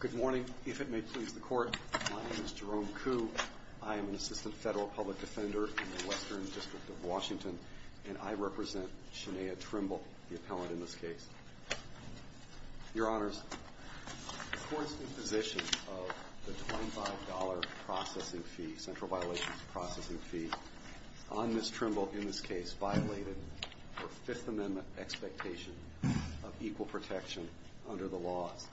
Good morning. If it may please the court, my name is Jerome Kuh. I am an assistant federal public defender in the Western District of Washington, and I represent Shania Trimble, the appellant in this case. Your Honors, the court's imposition of the $25 processing fee, central violations processing fee, on Ms. Trimble in this case violated her Fifth Amendment expectation of equal protection under the laws.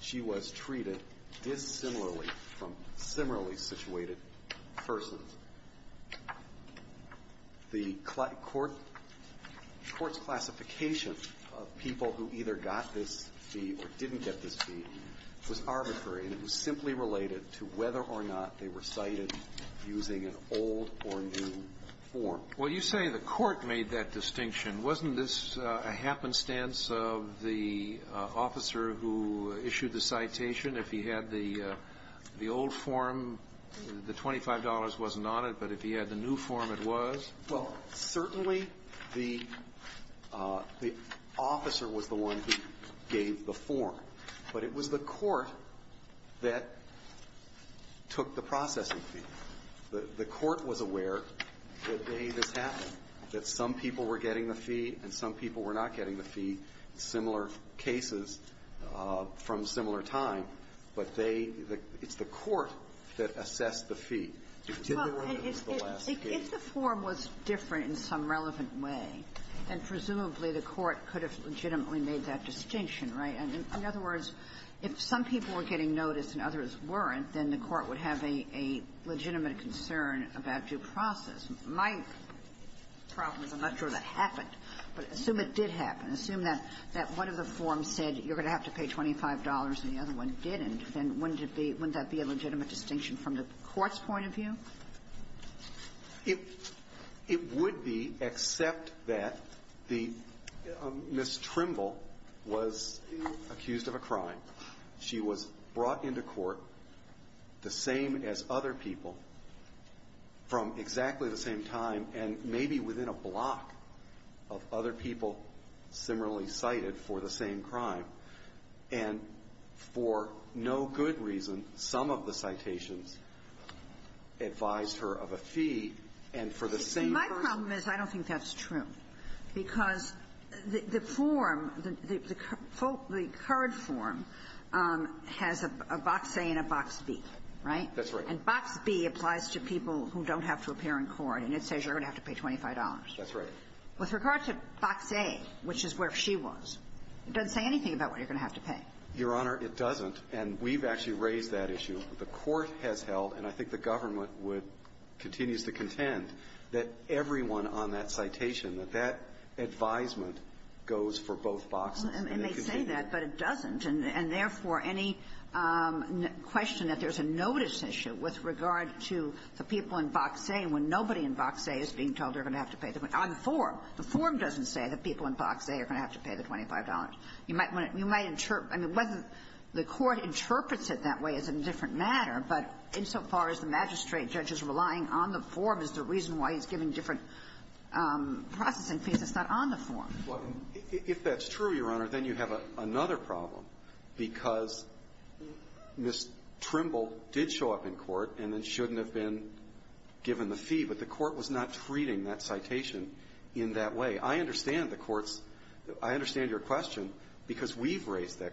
She was treated dissimilarly from similarly situated persons. The court's classification of people who either got this fee or didn't get this fee was arbitrary, and it was simply related to whether or not they were cited using an old or new form. Well, you say the court made that distinction. Wasn't this a happenstance of the officer who issued the citation? If he had the old form, the $25 wasn't on it, but if he had the new form, it was? Well, certainly the officer was the one who gave the form, but it was the court that took the processing fee. The court was aware the day this happened, that some people were getting the fee and some people were not getting the fee, similar cases from similar time, but they – it's the court that assessed the fee. Well, if the form was different in some relevant way, then presumably the court could have legitimately made that distinction, right? And in other words, if some people were getting notice and others weren't, then the court would have a legitimate concern about due process. My problem is I'm not sure that happened, but assume it did happen. Assume that one of the forms said you're going to have to pay $25 and the other one didn't, then wouldn't that be a legitimate distinction from the court's point of view? It would be, except that the – Ms. Trimble was accused of a crime. She was brought into court the same as other people from exactly the same time and maybe within a block of other people similarly cited for the same crime. And for no good reason, some of the citations advised her of a fee, and for the same person – That's not true, because the form, the current form, has a box A and a box B, right? That's right. And box B applies to people who don't have to appear in court, and it says you're going to have to pay $25. That's right. With regard to box A, which is where she was, it doesn't say anything about what you're going to have to pay. Your Honor, it doesn't, and we've actually raised that issue. The court has held, and I think the government would – continues to contend that everyone on that citation, that that advisement goes for both boxes. And they say that, but it doesn't, and therefore, any question that there's a notice issue with regard to the people in box A, when nobody in box A is being told they're going to have to pay the – on the form. The form doesn't say that people in box A are going to have to pay the $25. You might – you might – I mean, whether the court interprets it that way is a different matter, but insofar as the magistrate judge is relying on the form is the reason why he's given different processing fees that's not on the form. Well, if that's true, Your Honor, then you have another problem, because Ms. Trimble did show up in court and then shouldn't have been given the fee, but the court was not treating that citation in that way. I understand the court's – I understand your question because we've raised that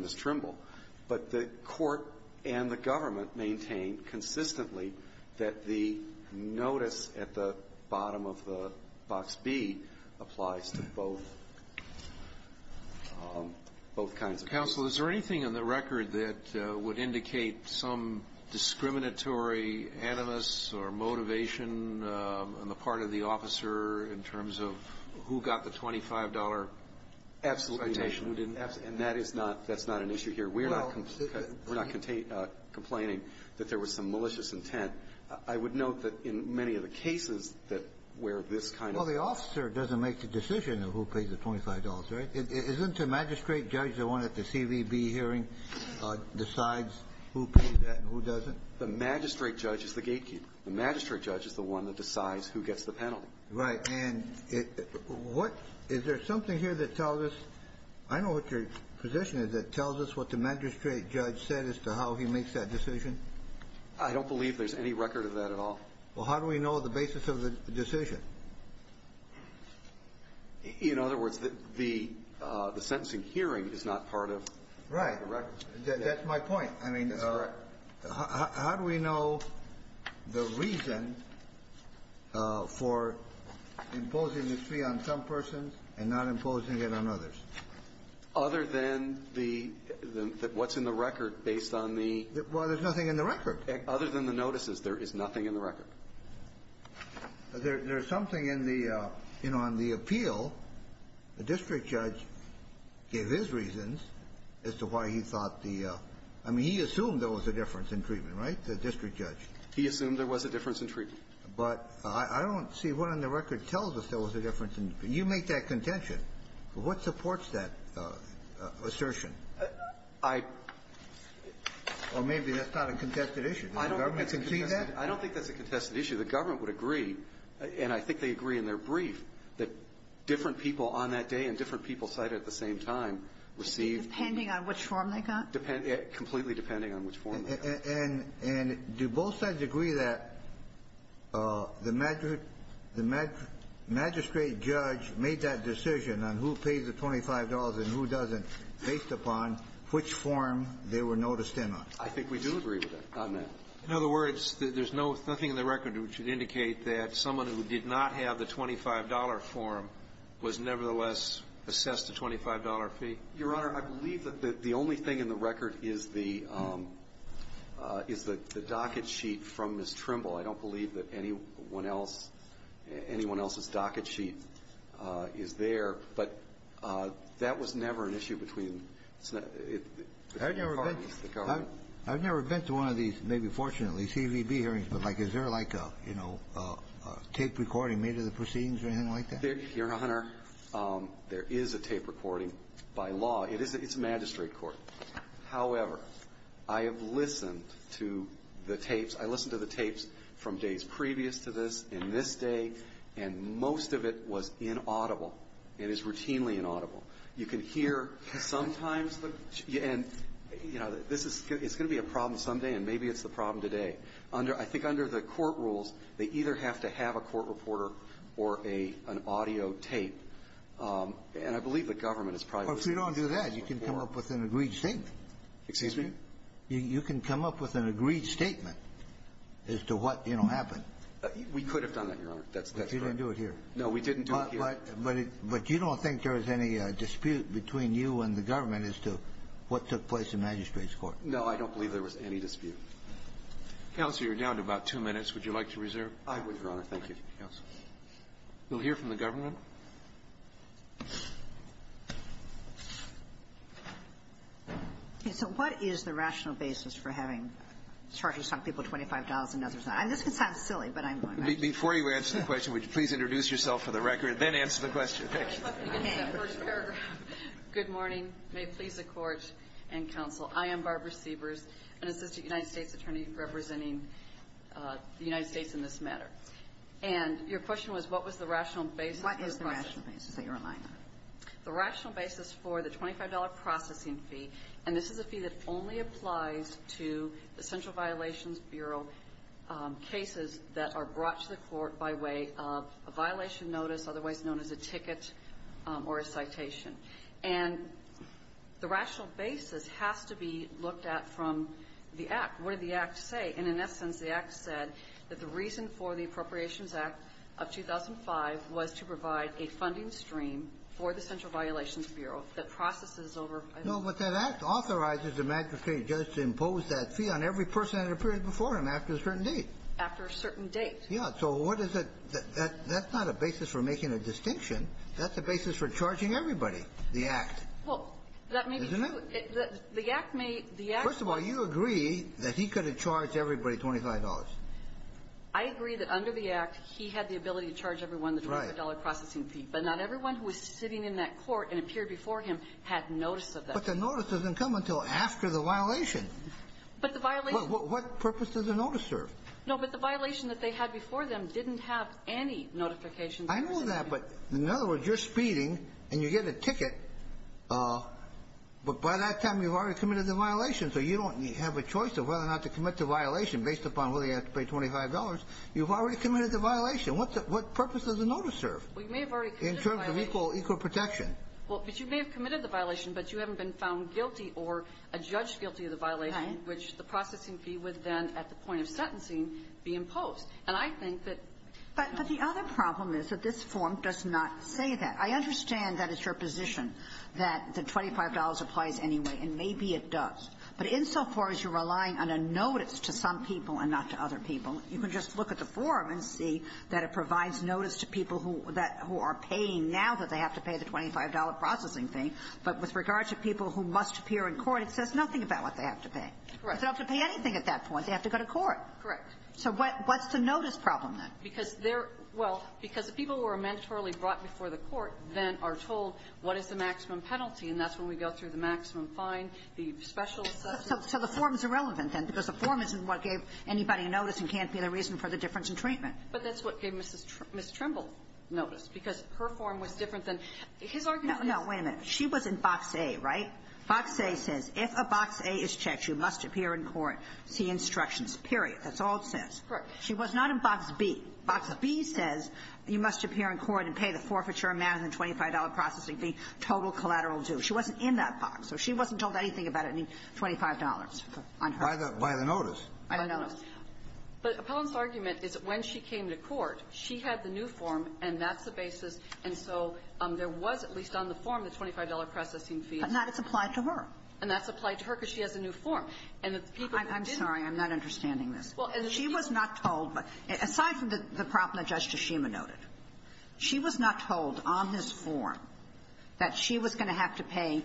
Ms. Trimble, but the court and the government maintain consistently that the notice at the bottom of the box B applies to both – both kinds of cases. Counsel, is there anything in the record that would indicate some discriminatory animus or motivation on the part of the officer in terms of who got the $25 citation who didn't? And that is not – that's not an issue here. We're not – we're not complaining that there was some malicious intent. I would note that in many of the cases that where this kind of – Well, the officer doesn't make the decision of who pays the $25, right? Isn't the magistrate judge the one at the CVB hearing decides who pays that and who doesn't? The magistrate judge is the gatekeeper. The magistrate judge is the one that decides who gets the penalty. Right. And it – what – is there something here that tells us – I know what your position is – that tells us what the magistrate judge said as to how he makes that decision? I don't believe there's any record of that at all. Well, how do we know the basis of the decision? In other words, the – the sentencing hearing is not part of the records. Right. That's my point. I mean, how do we know the reason for the decision? Imposing the fee on some persons and not imposing it on others. Other than the – the – what's in the record based on the – Well, there's nothing in the record. Other than the notices, there is nothing in the record. There's something in the – you know, on the appeal, the district judge gave his reasons as to why he thought the – I mean, he assumed there was a difference in treatment, right, the district judge? He assumed there was a difference in treatment. But I don't see what on the record tells us there was a difference in – you make that contention. What supports that assertion? I – Well, maybe that's not a contested issue. Does the government concede that? I don't think that's a contested issue. The government would agree, and I think they agree in their brief, that different people on that day and different people cited at the same time received – Depending on which form they got? Completely depending on which form they got. And do both sides agree that the magistrate judge made that decision on who pays the $25 and who doesn't based upon which form they were noticed in on? I think we do agree with that on that. In other words, there's nothing in the record which would indicate that someone who did not have the $25 form was nevertheless assessed a $25 fee? Your Honor, I believe that the only thing in the record is the – is the docket sheet from Ms. Trimble. I don't believe that anyone else – anyone else's docket sheet is there. But that was never an issue between the parties, the government. I've never been to one of these, maybe fortunately, CVB hearings. But, like, is there, like, a, you know, a tape recording made of the proceedings or anything like that? Your Honor, there is a tape recording by law. It is – it's a magistrate court. However, I have listened to the tapes. I listened to the tapes from days previous to this, in this day, and most of it was inaudible. It is routinely inaudible. You can hear sometimes the – and, you know, this is – it's going to be a problem someday, and maybe it's the problem today. Under – I think under the court rules, they either have to have a court reporter or a – an audio tape, and I believe the government has probably listened to this before. Well, if you don't do that, you can come up with an agreed statement. Excuse me? You can come up with an agreed statement as to what, you know, happened. We could have done that, Your Honor. That's correct. But you didn't do it here. No, we didn't do it here. But you don't think there was any dispute between you and the government as to what took place in the magistrate's court? No, I don't believe there was any dispute. Counsel, you're down to about two minutes. Would you like to reserve? I would, Your Honor. Thank you. Thank you, counsel. We'll hear from the government. Okay, so what is the rational basis for having charges on people $25 and others not? I mean, this could sound silly, but I'm going to ask you. Before you answer the question, would you please introduce yourself for the record, then answer the question. Thank you. Okay, first paragraph. Good morning. May it please the Court and counsel. I am Barbara Siebers, an assistant United States attorney representing the United States in this matter. And your question was, what was the rational basis for the process? What is the rational basis that you're relying on? The rational basis for the $25 processing fee, and this is a fee that only applies to the Central Violations Bureau cases that are brought to the court by way of a violation notice, otherwise known as a ticket or a citation. And the rational basis has to be looked at from the Act. What did the Act say? And in essence, the Act said that the reason for the Appropriations Act of 2005 was to provide a funding stream for the Central Violations Bureau that processes over ---- No, but that Act authorizes the magistrate or judge to impose that fee on every person at a period before him after a certain date. After a certain date. Yes. So what is it? That's not a basis for making a distinction. That's a basis for charging everybody, the Act. Well, that may be true. Isn't it? The Act may ---- First of all, you agree that he could have charged everybody $25. I agree that under the Act, he had the ability to charge everyone the $25 processing fee. Right. But not everyone who was sitting in that court and a period before him had notice of that fee. But the notice doesn't come until after the violation. But the violation ---- What purpose does the notice serve? No, but the violation that they had before them didn't have any notification ---- I know that, but in other words, you're speeding and you get a ticket, but by that time you've already committed the violation, so you don't have a choice of whether or not to commit the violation based upon whether you have to pay $25. You've already committed the violation. What purpose does the notice serve? Well, you may have already committed the violation. In terms of equal protection. Well, but you may have committed the violation, but you haven't been found guilty or adjudged guilty of the violation, which the processing fee would then, at the point of sentencing, be imposed. And I think that ---- But the other problem is that this form does not say that. I understand that it's your position that the $25 applies anyway, and maybe it does. But insofar as you're relying on a notice to some people and not to other people, you can just look at the form and see that it provides notice to people who are paying now that they have to pay the $25 processing fee, but with regard to people who must appear in court, it says nothing about what they have to pay. Correct. They don't have to pay anything at that point. They have to go to court. Correct. So what's the notice problem, then? Because they're ---- well, because the people who are mandatorily brought before the court then are told what is the maximum penalty, and that's when we go through the maximum fine, the special assessment. So the form is irrelevant, then, because the form isn't what gave anybody a notice and can't be the reason for the difference in treatment. But that's what gave Ms. Trimble notice, because her form was different than his argument. No. No. Wait a minute. She was in Box A, right? Box A says if a Box A is checked, you must appear in court, see instructions. That's all it says. She was not in Box B. Box B says you must appear in court and pay the forfeiture amount of the $25 processing fee, total collateral due. She wasn't in that box. So she wasn't told anything about any $25 on her. By the notice. By the notice. But Appellant's argument is that when she came to court, she had the new form, and that's the basis, and so there was, at least on the form, the $25 processing fee. But now it's applied to her. And that's applied to her because she has a new form. And the people who didn't ---- I'm sorry. I'm not understanding this. She was not told. Aside from the problem that Judge Toshima noted, she was not told on this form that she was going to have to pay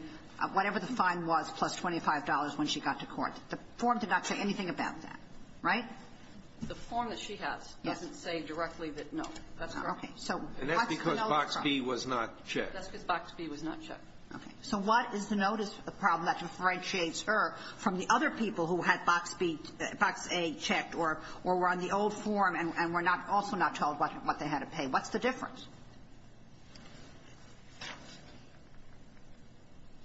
whatever the fine was plus $25 when she got to court. The form did not say anything about that. Right? The form that she has doesn't say directly that, no, that's not. Okay. And that's because Box B was not checked. That's because Box B was not checked. So what is the notice problem that differentiates her from the other people who had Box A checked or were on the old form and were not also not told what they had to pay? What's the difference?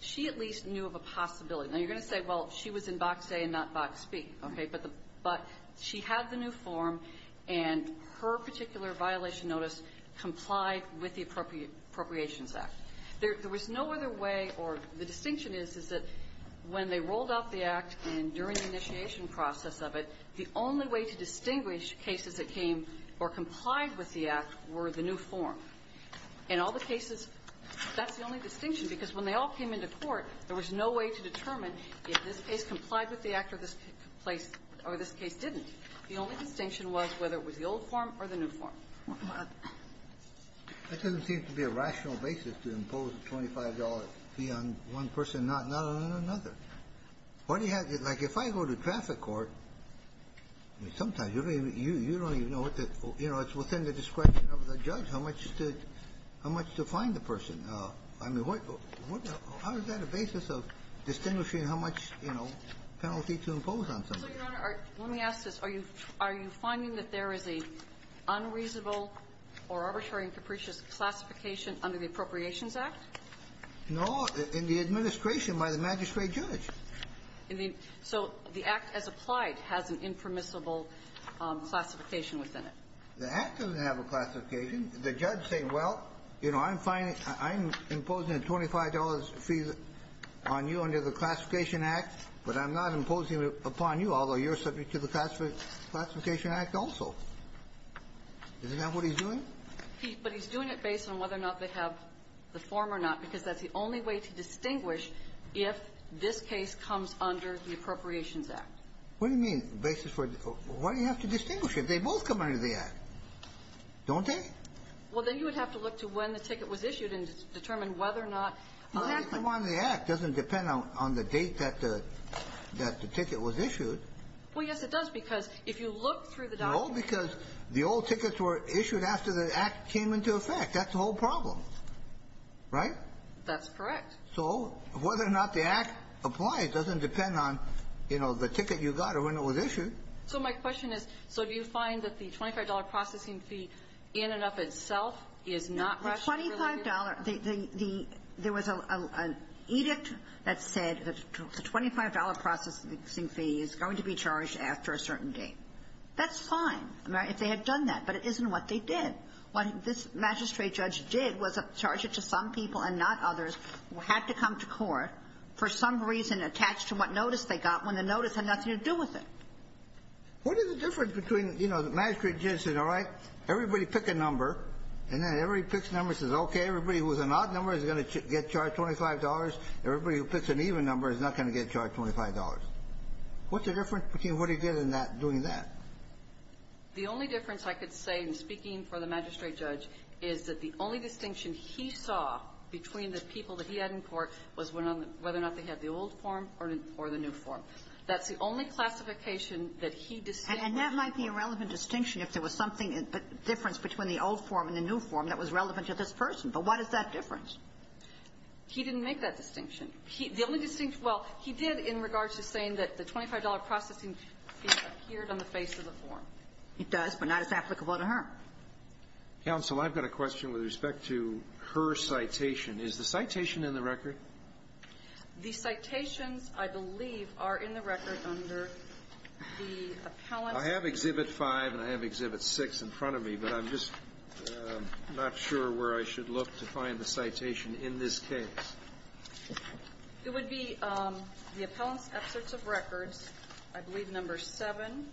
She at least knew of a possibility. Now, you're going to say, well, she was in Box A and not Box B. Okay. But the ---- but she had the new form, and her particular violation notice complied with the Appropriations Act. There was no other way, or the distinction is, is that when they rolled out the Act and during the initiation process of it, the only way to distinguish cases that came or complied with the Act were the new form. In all the cases, that's the only distinction. Because when they all came into court, there was no way to determine if this case complied with the Act or this case didn't. The only distinction was whether it was the old form or the new form. That doesn't seem to be a rational basis to impose a $25 fee on one person, not on another. What do you have to do? Like, if I go to traffic court, sometimes you don't even know what the ---- you know, it's within the discretion of the judge how much to find the person. I mean, how is that a basis of distinguishing how much, you know, penalty to impose on somebody? So, Your Honor, let me ask this. Are you finding that there is an unreasonable or arbitrary and capricious classification under the Appropriations Act? No. In the administration by the magistrate judge. So the Act as applied has an impermissible classification within it. The Act doesn't have a classification. The judge is saying, well, you know, I'm imposing a $25 fee on you under the Classification Act, but I'm not imposing it upon you, although you're subject to the Classification Act also. Isn't that what he's doing? But he's doing it based on whether or not they have the form or not, because that's the only way to distinguish if this case comes under the Appropriations Act. What do you mean, basis for the ---- why do you have to distinguish if they both come under the Act? Don't they? Well, then you would have to look to when the ticket was issued and determine whether or not ---- It doesn't come under the Act. It doesn't depend on the date that the ticket was issued. Well, yes, it does, because if you look through the document ---- No, because the old tickets were issued after the Act came into effect. That's the whole problem. Right? That's correct. So whether or not the Act applies doesn't depend on, you know, the ticket you got or when it was issued. So my question is, so do you find that the $25 processing fee in and of itself is not Russian-related? The $25, the ---- there was an edict that said that the $25 processing fee is going to be charged after a certain date. That's fine if they had done that, but it isn't what they did. What this magistrate judge did was charge it to some people and not others who had to come to court for some reason attached to what notice they got when the notice had nothing to do with it. What is the difference between, you know, the magistrate judge said, all right, everybody pick a number, and then everybody picks a number and says, okay, everybody who's an odd number is going to get charged $25, everybody who picks an even number is not going to get charged $25. What's the difference between what he did in that, doing that? The only difference I could say in speaking for the magistrate judge is that the only distinction he saw between the people that he had in court was whether or not they had the old form or the new form. That's the only classification that he distinguished. And that might be a relevant distinction if there was something, a difference between the old form and the new form that was relevant to this person. But what is that difference? He didn't make that distinction. The only distinction, well, he did in regards to saying that the $25 processing fee appeared on the face of the form. It does, but not as applicable to her. Counsel, I've got a question with respect to her citation. Is the citation in the record? The citations, I believe, are in the record under the appellate. I have Exhibit 5 and I have Exhibit 6 in front of me, but I'm just not sure where I should look to find the citation in this case. It would be the appellant's excerpts of records, I believe, Number 7.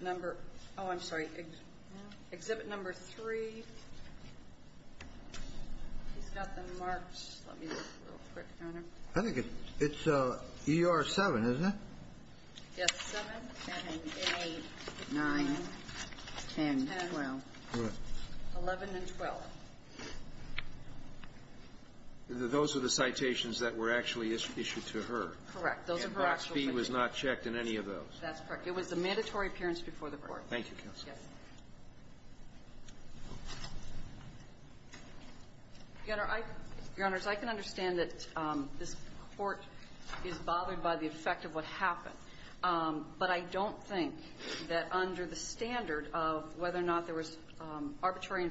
Number, oh, I'm sorry, Exhibit Number 3. He's got them marked. Let me look real quick on them. I think it's ER 7, isn't it? Yes, 7. 7, 8, 9, 10, 12. 11 and 12. Those are the citations that were actually issued to her. Correct. And that fee was not checked in any of those. That's correct. It was a mandatory appearance before the Court. Thank you, Counsel. Yes. Your Honors, I can understand that this Court is bothered by the effect of what happened, but I don't think that under the standard of whether or not there was arbitrary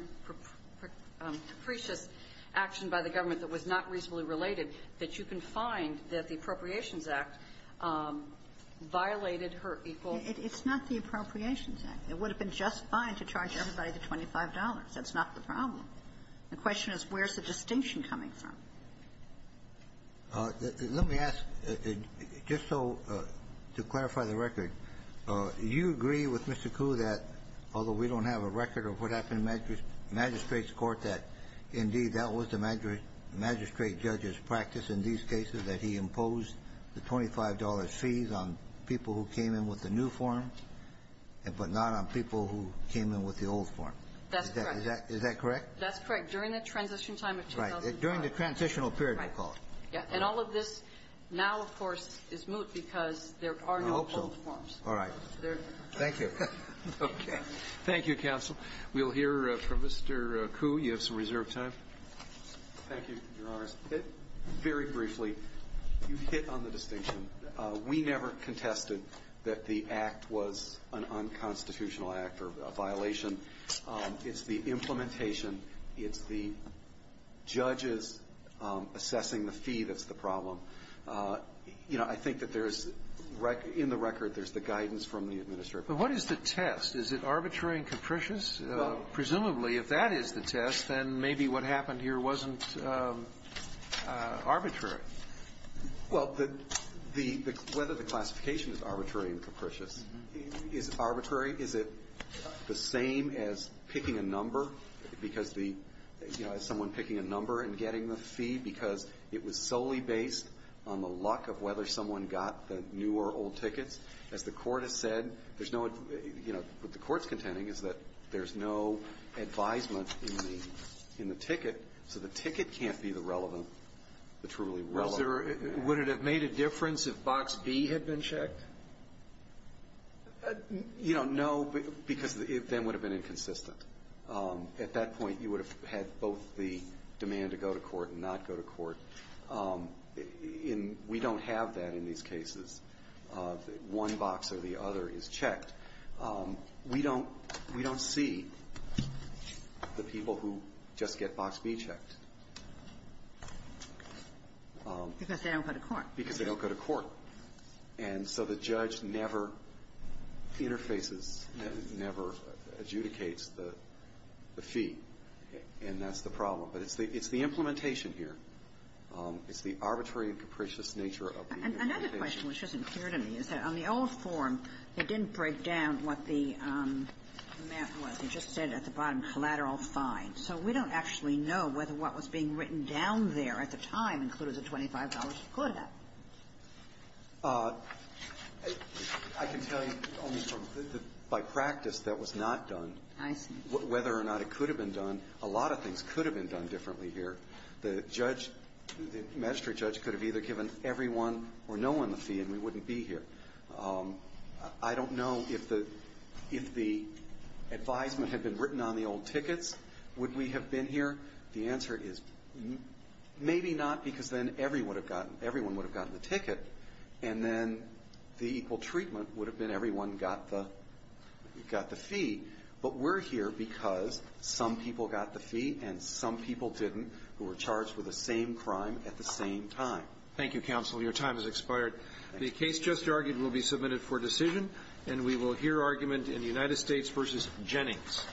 and capricious action by the government that was not reasonably related, that you can find that the Appropriations Act violated her equal ---- It's not the Appropriations Act. It would have been just fine to charge everybody the $25. That's not the problem. The question is where's the distinction coming from. Let me ask, just so to clarify the record, you agree with Mr. Koo that although we don't have a record of what happened in the magistrate's court, that indeed that was the magistrate judge's practice in these cases, that he imposed the $25 fees on people who came in with the new form, but not on people who came in with the old form. That's correct. Is that correct? That's correct. During the transition time of 2005. Right. During the transitional period, we call it. And all of this now, of course, is moot because there are no old forms. I hope so. All right. Thank you. Okay. Thank you, counsel. We'll hear from Mr. Koo. You have some reserved time. Thank you, Your Honors. Very briefly, you hit on the distinction. We never contested that the act was an unconstitutional act or a violation. It's the implementation. It's the judges assessing the fee that's the problem. You know, I think that there's ---- in the record, there's the guidance from the administration. But what is the test? Is it arbitrary and capricious? No. Presumably, if that is the test, then maybe what happened here wasn't arbitrary. Well, the ---- whether the classification is arbitrary and capricious is arbitrary. Is it the same as picking a number because the ---- you know, as someone picking a number and getting the fee because it was solely based on the luck of whether someone got the new or old tickets, as the Court has said, there's no ---- you know, what the Court's contending is that there's no advisement in the ticket, so the ticket can't be the relevant, the truly relevant. Would it have made a difference if Box B had been checked? You know, no, because then it would have been inconsistent. At that point, you would have had both the demand to go to court and not go to court. In ---- we don't have that in these cases. One box or the other is checked. We don't see the people who just get Box B checked. Because they don't go to court. Because they don't go to court. And so the judge never interfaces, never adjudicates the fee. And that's the problem. But it's the implementation here. It's the arbitrary and capricious nature of the implementation. Kagan. And another question which isn't clear to me is that on the old form, it didn't break down what the amount was. It just said at the bottom, collateral fine. So we don't actually know whether what was being written down there at the time included a $25 quota. I can tell you only from the ---- by practice, that was not done. I see. Whether or not it could have been done, a lot of things could have been done differently here. The judge, the magistrate judge could have either given everyone or no one the fee, and we wouldn't be here. I don't know if the advisement had been written on the old tickets, would we have been here? The answer is maybe not, because then everyone would have gotten the ticket. And then the equal treatment would have been everyone got the fee. But we're here because some people got the fee and some people didn't, who were charged with the same crime at the same time. Thank you, counsel. Your time has expired. The case just argued will be submitted for decision, and we will hear argument in the United States v. Jennings.